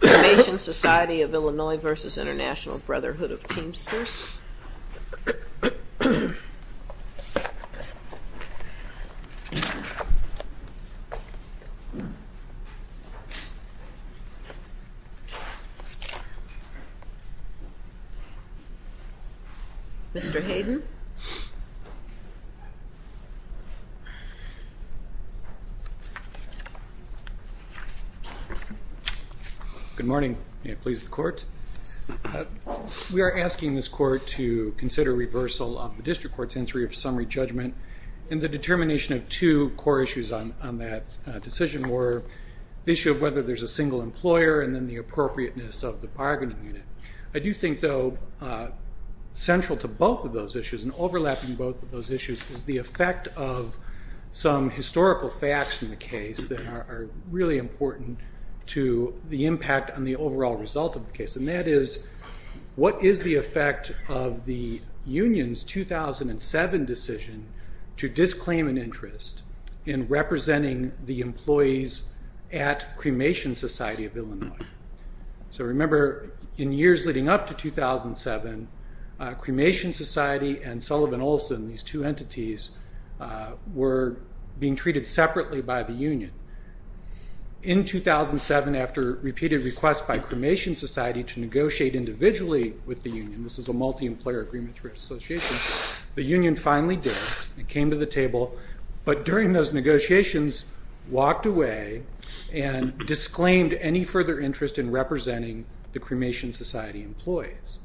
Teamsters. Mr. Hayden. Good morning. We are asking this court to consider reversal of the district court's entry of summary judgment. And the determination of two core issues on that decision were the issue of whether there's a single employer and then the appropriateness of the bargaining unit. I do think, though, central to both of those issues and overlapping both of those issues is the effect of some historical facts in the case that are really important to the impact on the overall result of the case. And that is, what is the effect of the union's 2007 decision to disclaim an interest in representing the employees at Cremation Society of Illinois? So remember, in years leading up to 2007, Cremation Society and Sullivan Olson, these two entities, were being treated separately by the union. In 2007, after repeated requests by Cremation Society to negotiate individually with the union, this is a multi-employer agreement through an association, the union finally did it. It came to the table. But during those negotiations, walked away and disclaimed any further interest in representing the Cremation Society employees.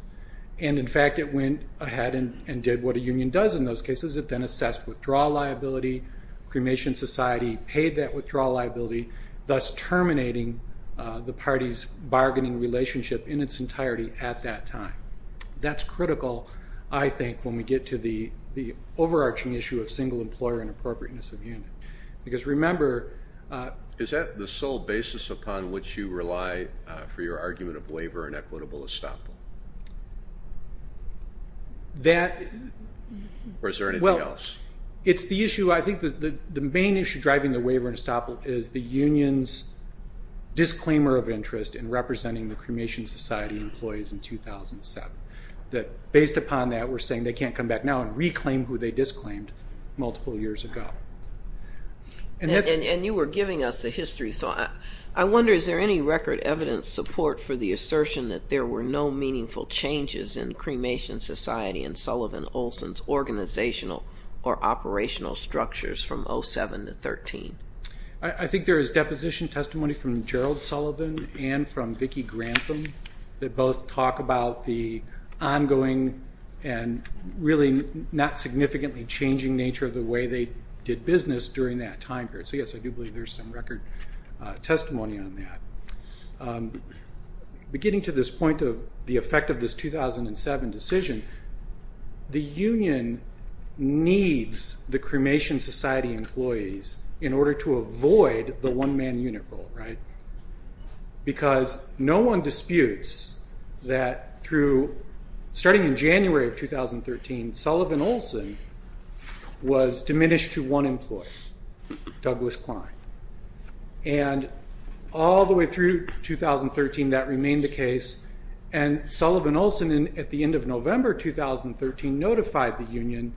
And, in fact, it went ahead and did what a union does in those cases. It then assessed withdrawal liability. Cremation Society paid that withdrawal liability, thus terminating the party's bargaining relationship in its entirety at that time. That's critical, I think, when we get to the overarching issue of single employer and appropriateness of unit. Because, remember- Is that the sole basis upon which you rely for your argument of waiver and equitable estoppel? That- Or is there anything else? It's the issue, I think the main issue driving the waiver and estoppel is the union's disclaimer of interest in representing the Cremation Society employees in 2007. Based upon that, we're saying they can't come back now and reclaim who they disclaimed multiple years ago. And you were giving us the history. So I wonder, is there any record evidence support for the assertion that there were no meaningful changes in Cremation Society and Sullivan Olson's organizational or operational structures from 2007 to 2013? I think there is deposition testimony from Gerald Sullivan and from Vicki Grantham that both talk about the ongoing and really not significantly changing nature of the way they did business during that time period. So, yes, I do believe there's some record testimony on that. Beginning to this point of the effect of this 2007 decision, the union needs the Cremation Society employees in order to avoid the one-man unit role, right? Because no one disputes that starting in January of 2013, Sullivan Olson was diminished to one employee, Douglas Klein. And all the way through 2013, that remained the case. And Sullivan Olson, at the end of November 2013, notified the union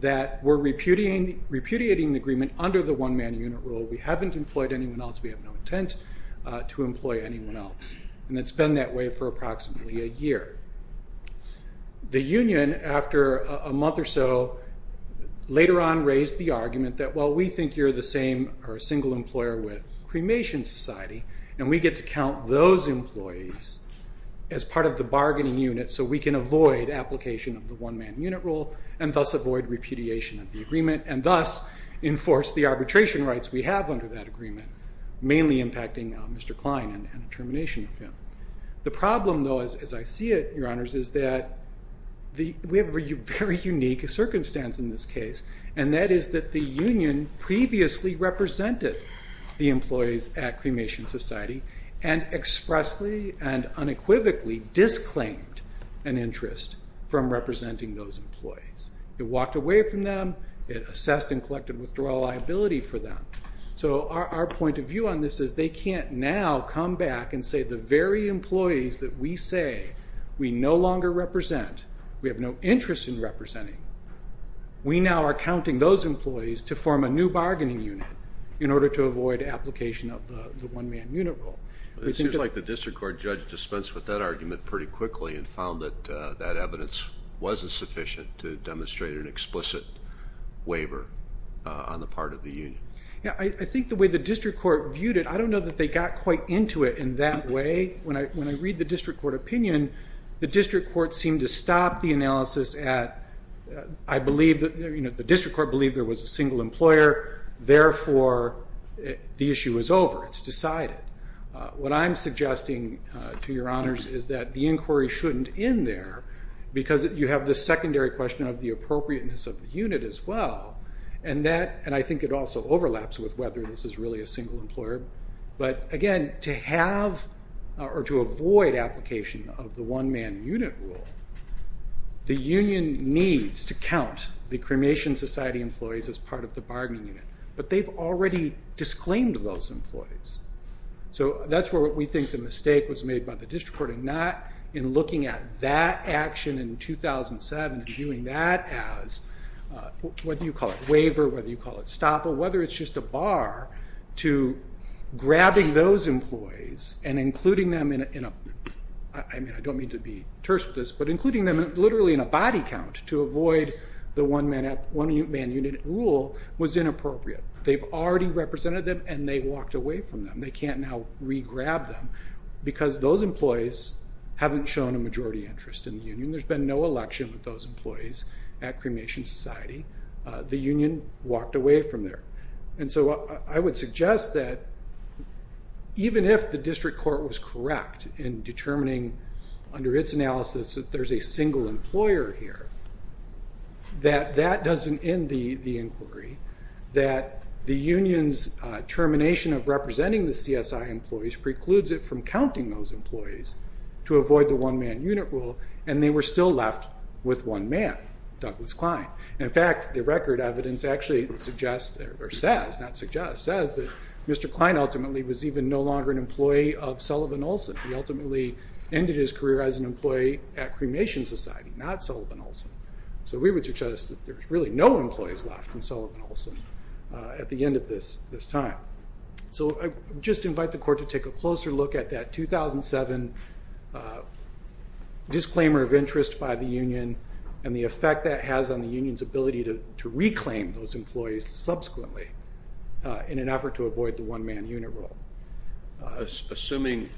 that we're repudiating the agreement under the one-man unit role. We haven't employed anyone else. We have no intent to employ anyone else. And it's been that way for approximately a year. The union, after a month or so, later on raised the argument that while we think you're the same or a single employer with Cremation Society, and we get to count those employees as part of the bargaining unit so we can avoid application of the one-man unit role and thus avoid repudiation of the agreement and thus enforce the arbitration rights we have under that agreement, mainly impacting Mr. Klein and the termination of him. The problem, though, as I see it, Your Honors, is that we have a very unique circumstance in this case, and that is that the union previously represented the employees at Cremation Society and expressly and unequivocally disclaimed an interest from representing those employees. It walked away from them. It assessed and collected withdrawal liability for them. So our point of view on this is they can't now come back and say the very employees that we say we no longer represent, we have no interest in representing, we now are counting those employees to form a new bargaining unit in order to avoid application of the one-man unit role. It seems like the district court judge dispensed with that argument pretty quickly and found that that evidence wasn't sufficient to demonstrate an explicit waiver on the part of the union. I think the way the district court viewed it, I don't know that they got quite into it in that way. When I read the district court opinion, the district court seemed to stop the analysis at, I believe that the district court believed there was a single employer, therefore the issue is over. It's decided. What I'm suggesting to Your Honors is that the inquiry shouldn't end there because you have the secondary question of the appropriateness of the unit as well, and I think it also overlaps with whether this is really a single employer. Again, to have or to avoid application of the one-man unit rule, the union needs to count the cremation society employees as part of the bargaining unit, but they've already disclaimed those employees. That's where we think the mistake was made by the district court in not looking at that action in 2007 and viewing that as, what do you call it, grabbing those employees and including them in a, I don't mean to be terse with this, but including them literally in a body count to avoid the one-man unit rule was inappropriate. They've already represented them and they walked away from them. They can't now re-grab them because those employees haven't shown a majority interest in the union. There's been no election with those employees at cremation society. The union walked away from there. I would suggest that even if the district court was correct in determining under its analysis that there's a single employer here, that that doesn't end the inquiry, that the union's termination of representing the CSI employees precludes it from counting those employees to avoid the one-man unit rule, and they were still left with one man, Douglas Klein. In fact, the record evidence actually suggests, or says, not suggests, says that Mr. Klein ultimately was even no longer an employee of Sullivan Olson. He ultimately ended his career as an employee at cremation society, not Sullivan Olson. So we would suggest that there's really no employees left in Sullivan Olson at the end of this time. So I just invite the court to take a closer look at that 2007 disclaimer of interest by the union and the effect that has on the union's ability to reclaim those employees subsequently in an effort to avoid the one-man unit rule. Assuming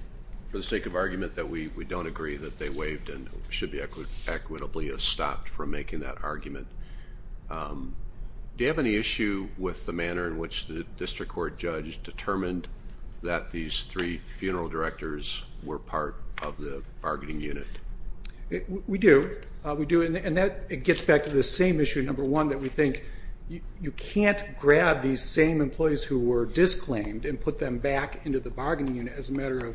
for the sake of argument that we don't agree that they waived and should be equitably stopped from making that argument, do you have any issue with the manner in which the district court judge determined that these three funeral directors were part of the bargaining unit? We do. We do, and that gets back to the same issue, number one, that we think you can't grab these same employees who were disclaimed and put them back into the bargaining unit as a matter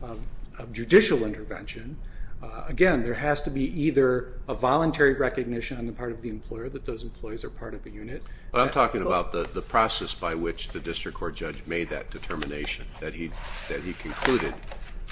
of judicial intervention. Again, there has to be either a voluntary recognition on the part of the employer that those employees are part of the unit. But I'm talking about the process by which the district court judge made that determination, that he concluded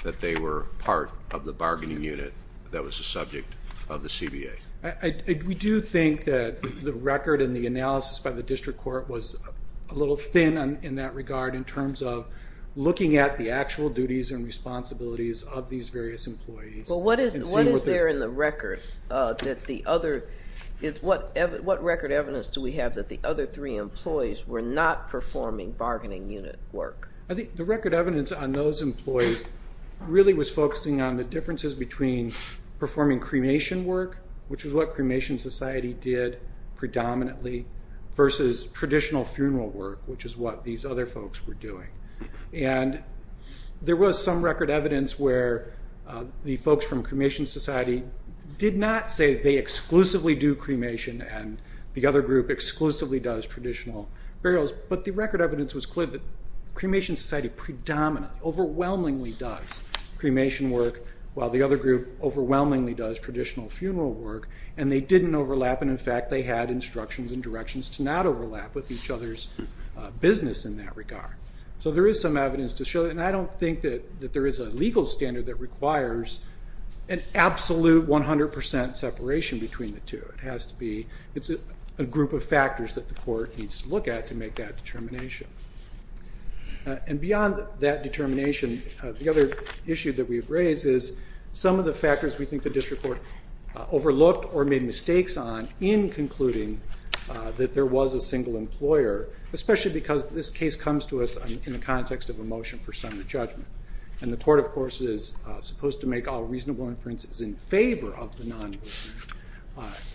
that they were part of the bargaining unit that was the subject of the CBA. We do think that the record and the analysis by the district court was a little thin in that regard in terms of looking at the actual duties and responsibilities of these various employees. Well, what is there in the record? What record evidence do we have that the other three employees were not performing bargaining unit work? I think the record evidence on those employees really was focusing on the differences between performing cremation work, which is what cremation society did predominantly, versus traditional funeral work, which is what these other folks were doing. And there was some record evidence where the folks from cremation society did not say they exclusively do cremation and the other group exclusively does traditional burials. But the record evidence was clear that cremation society predominantly, overwhelmingly does cremation work, while the other group overwhelmingly does traditional funeral work, and they didn't overlap. And, in fact, they had instructions and directions to not overlap with each other's business in that regard. So there is some evidence to show that. And I don't think that there is a legal standard that requires an absolute 100 percent separation between the two. It's a group of factors that the court needs to look at to make that determination. And beyond that determination, the other issue that we've raised is some of the factors we think the district court overlooked or made mistakes on in concluding that there was a single employer, especially because this case comes to us in the context of a motion for summary judgment. And the court, of course, is supposed to make all reasonable inferences in favor of the non-movement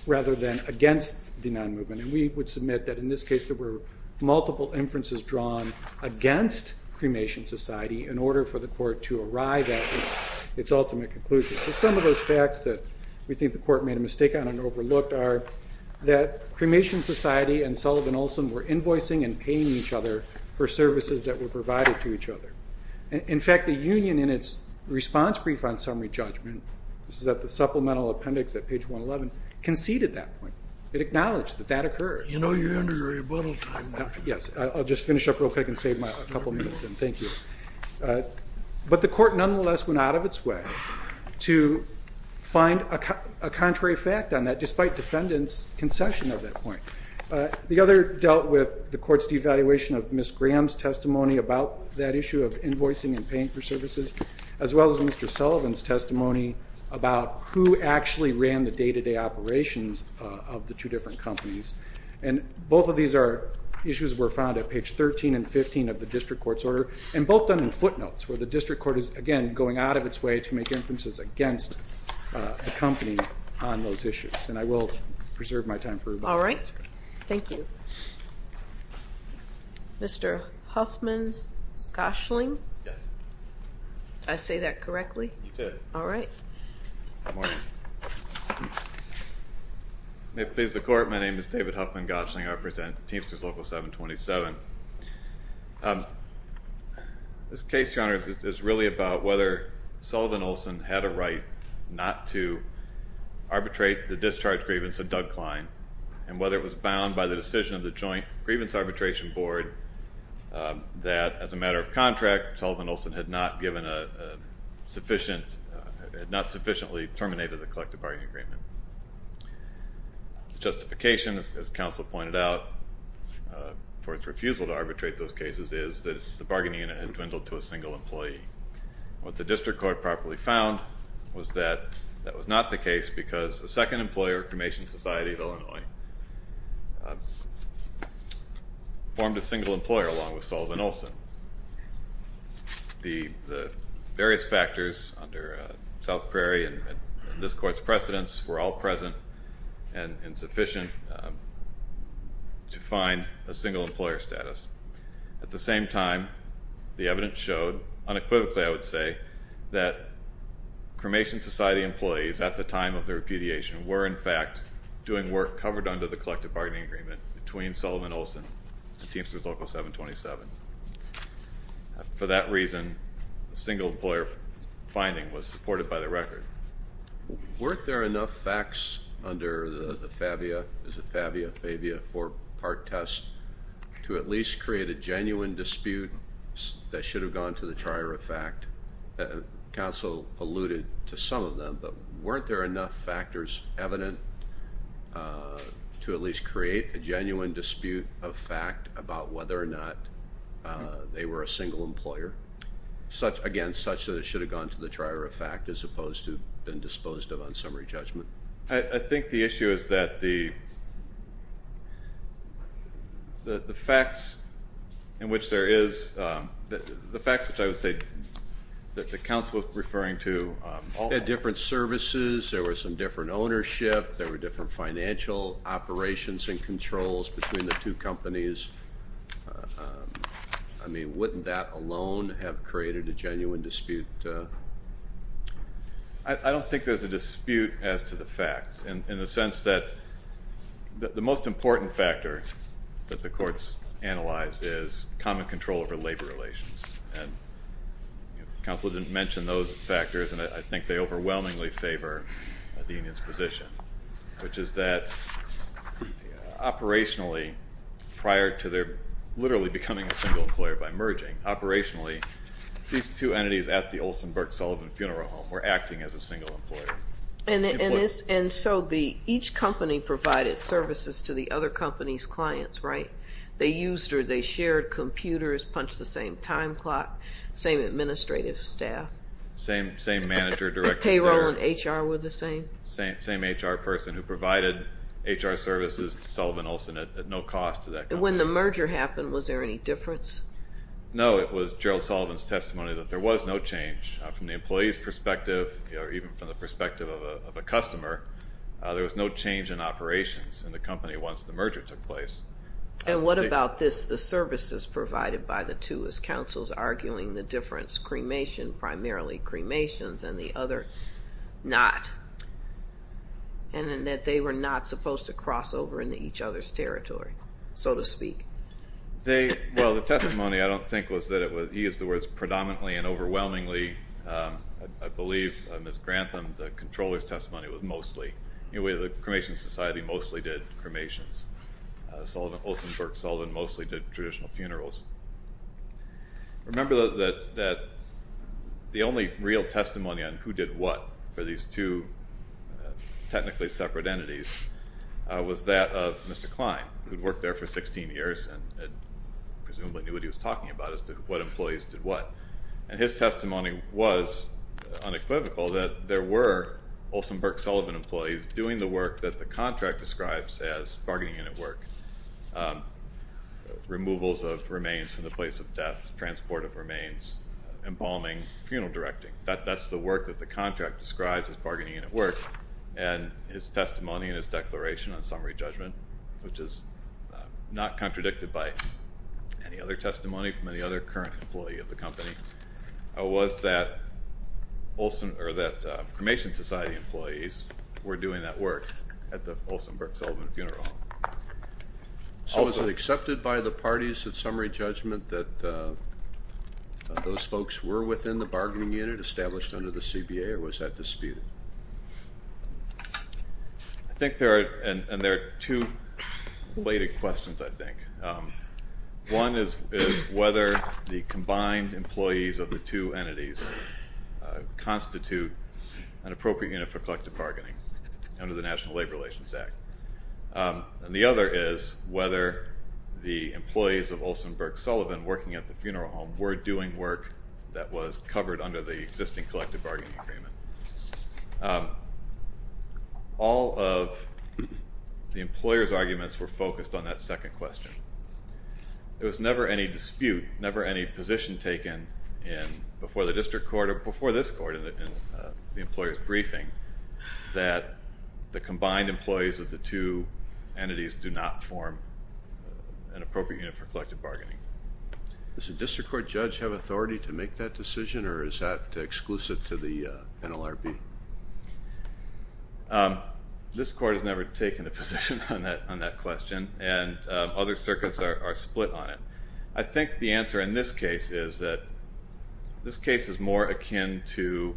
rather than against the non-movement. And we would submit that in this case there were multiple inferences drawn against cremation society in order for the court to arrive at its ultimate conclusion. So some of those facts that we think the court made a mistake on and overlooked are that cremation society and Sullivan Olson were invoicing and paying each other for services that were provided to each other. In fact, the union, in its response brief on summary judgment, this is at the supplemental appendix at page 111, conceded that point. It acknowledged that that occurred. You know you're under rebuttal time, Mark. Yes, I'll just finish up real quick and save a couple minutes then. Thank you. But the court nonetheless went out of its way to find a contrary fact on that, despite defendants' concession of that point. The other dealt with the court's devaluation of Ms. Graham's testimony about that issue of invoicing and paying for services, as well as Mr. Sullivan's testimony about who actually ran the day-to-day operations of the two different companies. And both of these issues were found at page 13 and 15 of the district court's order, and both done in footnotes where the district court is, again, going out of its way to make inferences against a company on those issues. Yes, and I will preserve my time for a moment. All right. Thank you. Mr. Huffman-Goshling? Yes. Did I say that correctly? You did. All right. Good morning. May it please the Court, my name is David Huffman-Goshling. I represent Teamsters Local 727. This case, Your Honor, is really about whether Sullivan Olson had a right not to arbitrate the discharge grievance of Doug Klein, and whether it was bound by the decision of the Joint Grievance Arbitration Board that, as a matter of contract, Sullivan Olson had not sufficiently terminated the collective bargaining agreement. The justification, as counsel pointed out, for its refusal to arbitrate those cases, is that the bargaining unit had dwindled to a single employee. What the district court properly found was that that was not the case because a second employer, Cremation Society of Illinois, formed a single employer along with Sullivan Olson. The various factors under South Prairie and this Court's precedence were all present and sufficient to find a single employer status. At the same time, the evidence showed, unequivocally I would say, that Cremation Society employees at the time of their repudiation were, in fact, doing work covered under the collective bargaining agreement between Sullivan Olson and Teamsters Local 727. For that reason, the single employer finding was supported by the record. Weren't there enough facts under the Fabia, is it Fabia, Fabia four-part test, to at least create a genuine dispute that should have gone to the trier of fact? Counsel alluded to some of them, but weren't there enough factors evident to at least create a genuine dispute of fact about whether or not they were a single employer, again, such that it should have gone to the trier of fact as opposed to been disposed of on summary judgment? I think the issue is that the facts in which there is, the facts which I would say that the counsel was referring to. There were different services. There were some different ownership. There were different financial operations and controls between the two companies. I mean, wouldn't that alone have created a genuine dispute? I don't think there's a dispute as to the facts in the sense that the most important factor that the courts analyze is common control over labor relations. And counsel didn't mention those factors, and I think they overwhelmingly favor the union's position, which is that operationally prior to their literally becoming a single employer by merging, operationally, these two entities at the Olsen-Burke-Sullivan Funeral Home were acting as a single employer. And so each company provided services to the other company's clients, right? They used or they shared computers, punched the same time clock, same administrative staff. Same manager directly there. Payroll and HR were the same. Same HR person who provided HR services to Sullivan-Olsen at no cost to that company. When the merger happened, was there any difference? No. It was Gerald Sullivan's testimony that there was no change from the employee's perspective or even from the perspective of a customer. There was no change in operations in the company once the merger took place. And what about this, the services provided by the two, as counsel's arguing the difference, cremation, primarily cremations, and the other not, and that they were not supposed to cross over into each other's territory, so to speak. Well, the testimony, I don't think, was that he used the words predominantly and overwhelmingly. I believe Ms. Grantham, the controller's testimony was mostly. Anyway, the cremation society mostly did cremations. Sullivan-Olsen-Burke-Sullivan mostly did traditional funerals. Remember that the only real testimony on who did what for these two technically separate entities was that of Mr. Klein, who had worked there for 16 years and presumably knew what he was talking about as to what employees did what. And his testimony was unequivocal that there were Olsen-Burke-Sullivan employees doing the work that the contract describes as bargaining in at work, removals of remains from the place of death, transport of remains, embalming, funeral directing. That's the work that the contract describes as bargaining in at work. And his testimony and his declaration on summary judgment, which is not contradicted by any other testimony from any other current employee of the company, was that cremation society employees were doing that work at the Olsen-Burke-Sullivan funeral home. So was it accepted by the parties at summary judgment that those folks were within the bargaining unit established under the CBA, or was that disputed? I think there are two related questions, I think. One is whether the combined employees of the two entities constitute an appropriate unit for collective bargaining under the National Labor Relations Act. And the other is whether the employees of Olsen-Burke-Sullivan working at the funeral home were doing work that was covered under the existing collective bargaining agreement. All of the employer's arguments were focused on that second question. There was never any dispute, never any position taken before the district court or before this court in the employer's briefing that the combined employees of the two entities do not form an appropriate unit for collective bargaining. Does the district court judge have authority to make that decision, or is that exclusive to the NLRB? This court has never taken a position on that question, and other circuits are split on it. I think the answer in this case is that this case is more akin to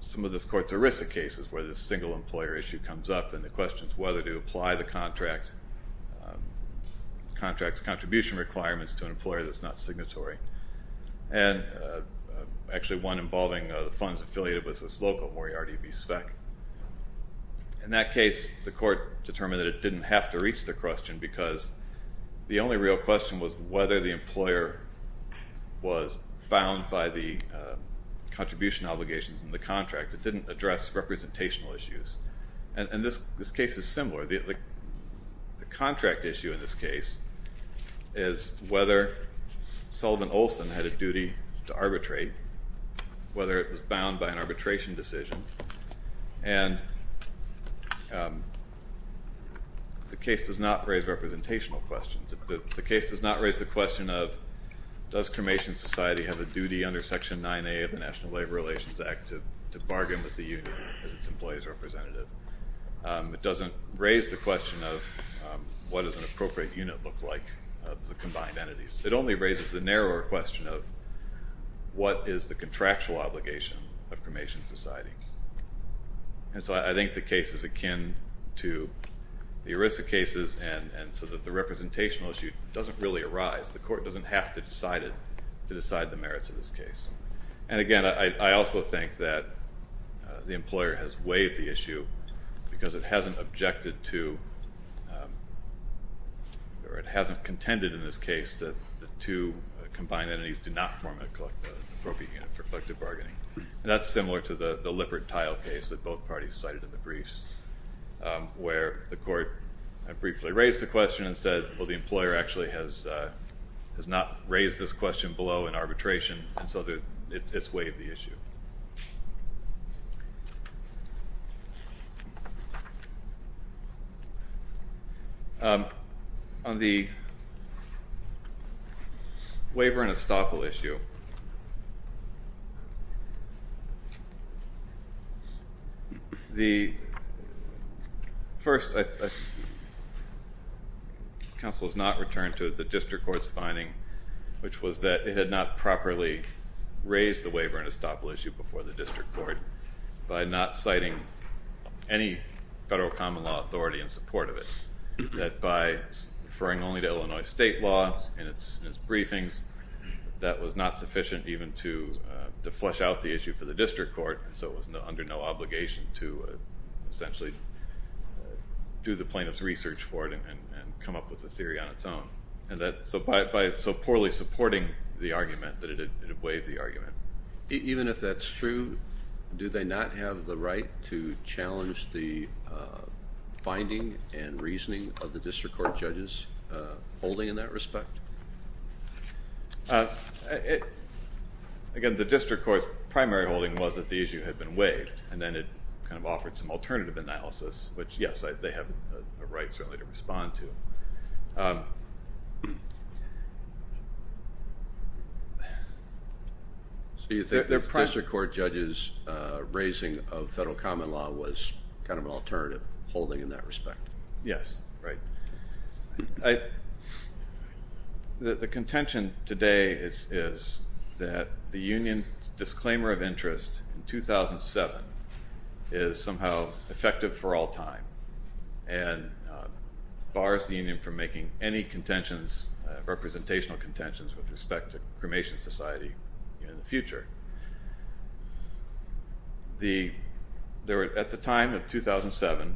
some of this court's ERISA cases where this single employer issue comes up and the question is whether to apply the contract's contribution requirements to an employer that's not signatory. And actually one involving the funds affiliated with this local Moriarty B. Speck. In that case, the court determined that it didn't have to reach the question because the only real question was whether the employer was bound by the contribution obligations in the contract. It didn't address representational issues. And this case is similar. The contract issue in this case is whether Sullivan Olson had a duty to arbitrate, whether it was bound by an arbitration decision, and the case does not raise representational questions. The case does not raise the question of does cremation society have a duty under Section 9A of the National Labor Relations Act to bargain with the union as its employee's representative. It doesn't raise the question of what does an appropriate unit look like of the combined entities. It only raises the narrower question of what is the contractual obligation of cremation society. And so I think the case is akin to the ERISA cases and so that the representational issue doesn't really arise. The court doesn't have to decide it to decide the merits of this case. And, again, I also think that the employer has waived the issue because it hasn't objected to or it hasn't contended in this case that the two combined entities do not form an appropriate unit for collective bargaining. And that's similar to the Lippert-Tile case that both parties cited in the briefs, where the court briefly raised the question and said, well, the employer actually has not raised this question below in arbitration and so it's waived the issue. On the waiver and estoppel issue, the first council has not returned to the district court's finding, which was that it had not properly raised the waiver and estoppel issue before the district court by not citing any federal common law authority in support of it, that by referring only to Illinois state law in its briefings, that was not sufficient even to flesh out the issue for the district court, so it was under no obligation to essentially do the plaintiff's research for it and come up with a theory on its own. So by so poorly supporting the argument that it had waived the argument. Even if that's true, do they not have the right to challenge the finding and reasoning of the district court judge's holding in that respect? Again, the district court's primary holding was that the issue had been waived and then it kind of offered some alternative analysis, which yes, they have a right certainly to respond to. So you think the district court judge's raising of federal common law was kind of an alternative holding in that respect? Yes. The contention today is that the union's disclaimer of interest in 2007 is somehow effective for all time and bars the union from making any representational contentions with respect to cremation society in the future. At the time of 2007,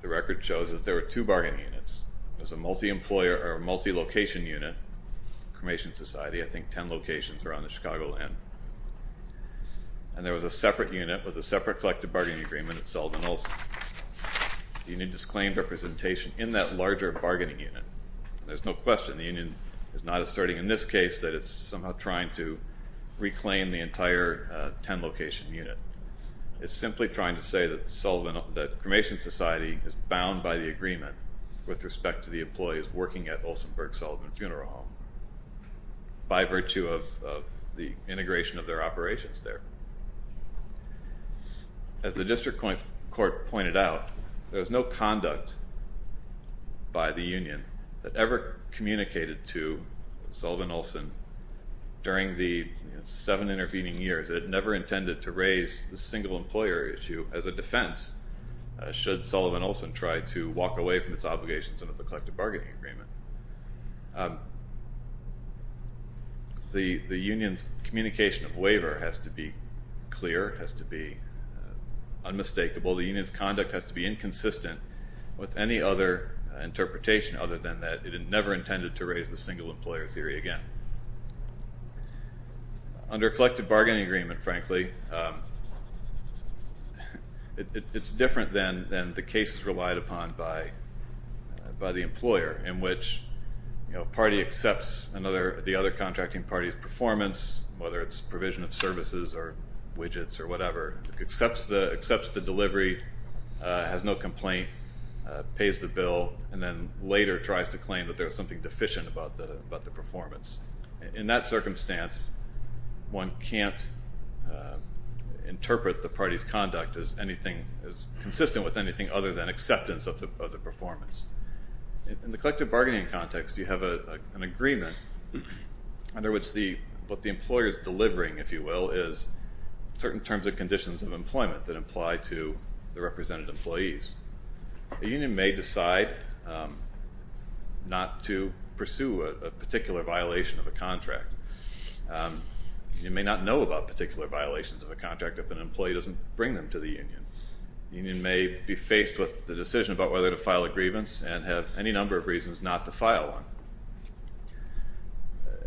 the record shows that there were two bargaining units. There was a multi-location unit, cremation society, I think 10 locations around the Chicagoland, and there was a separate unit with a separate collective bargaining agreement at Sullivan also. The union disclaimed representation in that larger bargaining unit. There's no question the union is not asserting in this case that it's somehow trying to reclaim the entire 10-location unit. It's simply trying to say that cremation society is bound by the agreement with respect to the employees working at Olsenburg Sullivan Funeral Home by virtue of the integration of their operations there. As the district court pointed out, there was no conduct by the union that ever communicated to Sullivan Olsen during the seven intervening years that it never intended to raise the single employer issue as a defense should Sullivan Olsen try to walk away from its obligations under the collective bargaining agreement. The union's communication of waiver has to be clear, has to be unmistakable. The union's conduct has to be inconsistent with any other interpretation other than that it never intended to raise the single employer theory again. Under collective bargaining agreement, frankly, it's different than the cases relied upon by the employer in which a party accepts the other contracting party's performance, whether it's provision of services or widgets or whatever, accepts the delivery, has no complaint, pays the bill, and then later tries to claim that there's something deficient about the performance. In that circumstance, one can't interpret the party's conduct as consistent with anything other than acceptance of the performance. In the collective bargaining context, you have an agreement under which what the employer is delivering, if you will, is certain terms and conditions of employment that apply to the represented employees. A union may decide not to pursue a particular violation of a contract. You may not know about particular violations of a contract if an employee doesn't bring them to the union. The union may be faced with the decision about whether to file a grievance and have any number of reasons not to file one.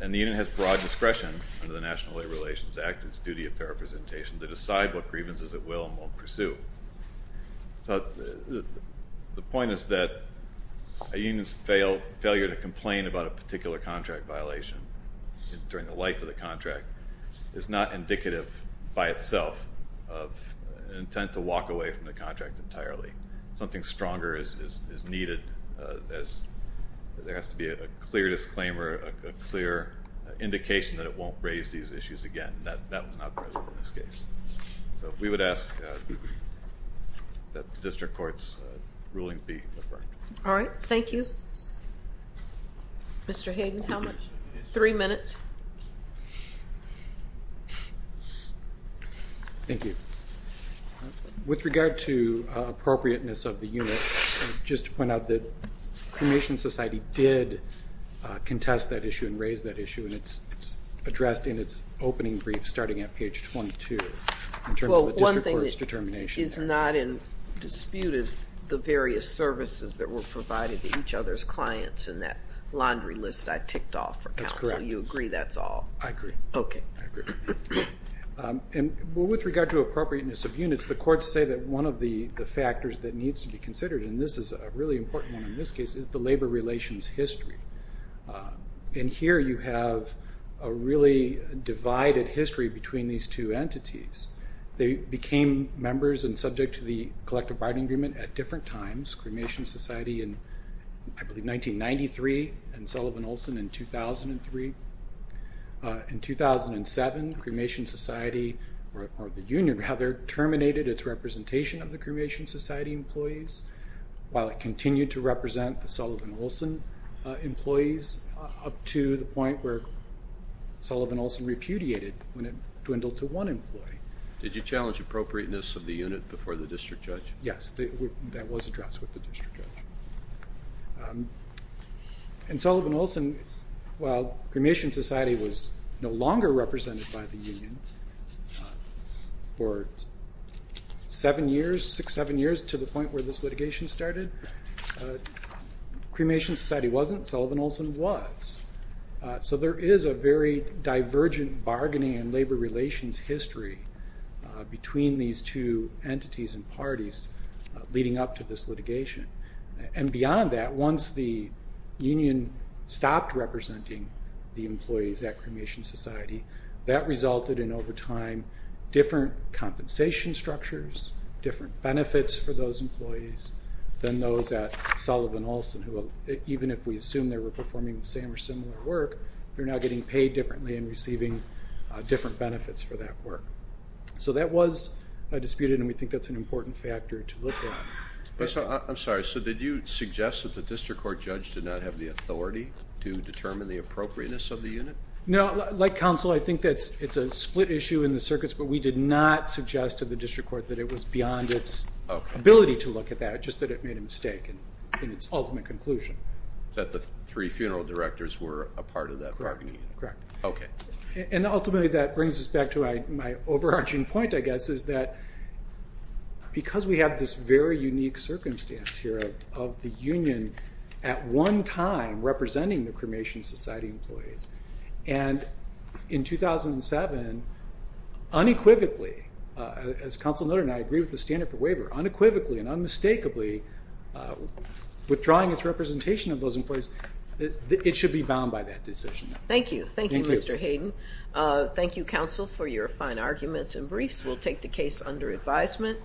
And the union has broad discretion under the National Labor Relations Act, its duty of fair representation, to decide what grievances it will and won't pursue. So the point is that a union's failure to complain about a particular contract violation during the life of the contract is not indicative by itself of an intent to walk away from the contract entirely. Something stronger is needed. There has to be a clear disclaimer, a clear indication that it won't raise these issues again. That was not present in this case. So we would ask that the district court's ruling be referred. All right. Thank you. Mr. Hayden, how much? Three minutes. Thank you. With regard to appropriateness of the unit, just to point out that Cremation Society did contest that issue and raise that issue, and it's addressed in its opening brief starting at page 22 in terms of the district court's determination. Well, one thing that is not in dispute is the various services that were provided to each other's clients in that laundry list I ticked off for counsel. You agree that's all? I agree. Okay. I agree. And with regard to appropriateness of units, the courts say that one of the factors that needs to be considered, and this is a really important one in this case, is the labor relations history. And here you have a really divided history between these two entities. They became members and subject to the collective bargaining agreement at different times, Cremation Society in, I believe, 1993 and Sullivan-Olson in 2003. In 2007, Cremation Society, or the union rather, terminated its representation of the Cremation Society employees while it continued to represent the Sullivan-Olson employees up to the point where Sullivan-Olson repudiated when it dwindled to one employee. Did you challenge appropriateness of the unit before the district judge? Yes. That was addressed with the district judge. And Sullivan-Olson, while Cremation Society was no longer represented by the union for seven years, six, seven years to the point where this litigation started, Cremation Society wasn't. Sullivan-Olson was. So there is a very divergent bargaining and labor relations history between these two entities and parties leading up to this litigation. And beyond that, once the union stopped representing the employees at Cremation Society, that resulted in over time different compensation structures, different benefits for those employees, than those at Sullivan-Olson who, even if we assume they were performing the same or similar work, they're now getting paid differently and receiving different benefits for that work. So that was disputed, and we think that's an important factor to look at. I'm sorry. So did you suggest that the district court judge did not have the authority to determine the appropriateness of the unit? No. Like counsel, I think it's a split issue in the circuits, but we did not suggest to the district court that it was beyond its ability to look at that, just that it made a mistake in its ultimate conclusion. That the three funeral directors were a part of that bargaining. Correct. Okay. And ultimately that brings us back to my overarching point, I guess, is that because we have this very unique circumstance here of the union at one time representing the Cremation Society employees, and in 2007, unequivocally, as counsel noted, and I agree with the standard for waiver, unequivocally and unmistakably withdrawing its representation of those employees, it should be bound by that decision. Thank you. Thank you, Mr. Hayden. Thank you, counsel, for your fine arguments and briefs. We'll take the case under advisement.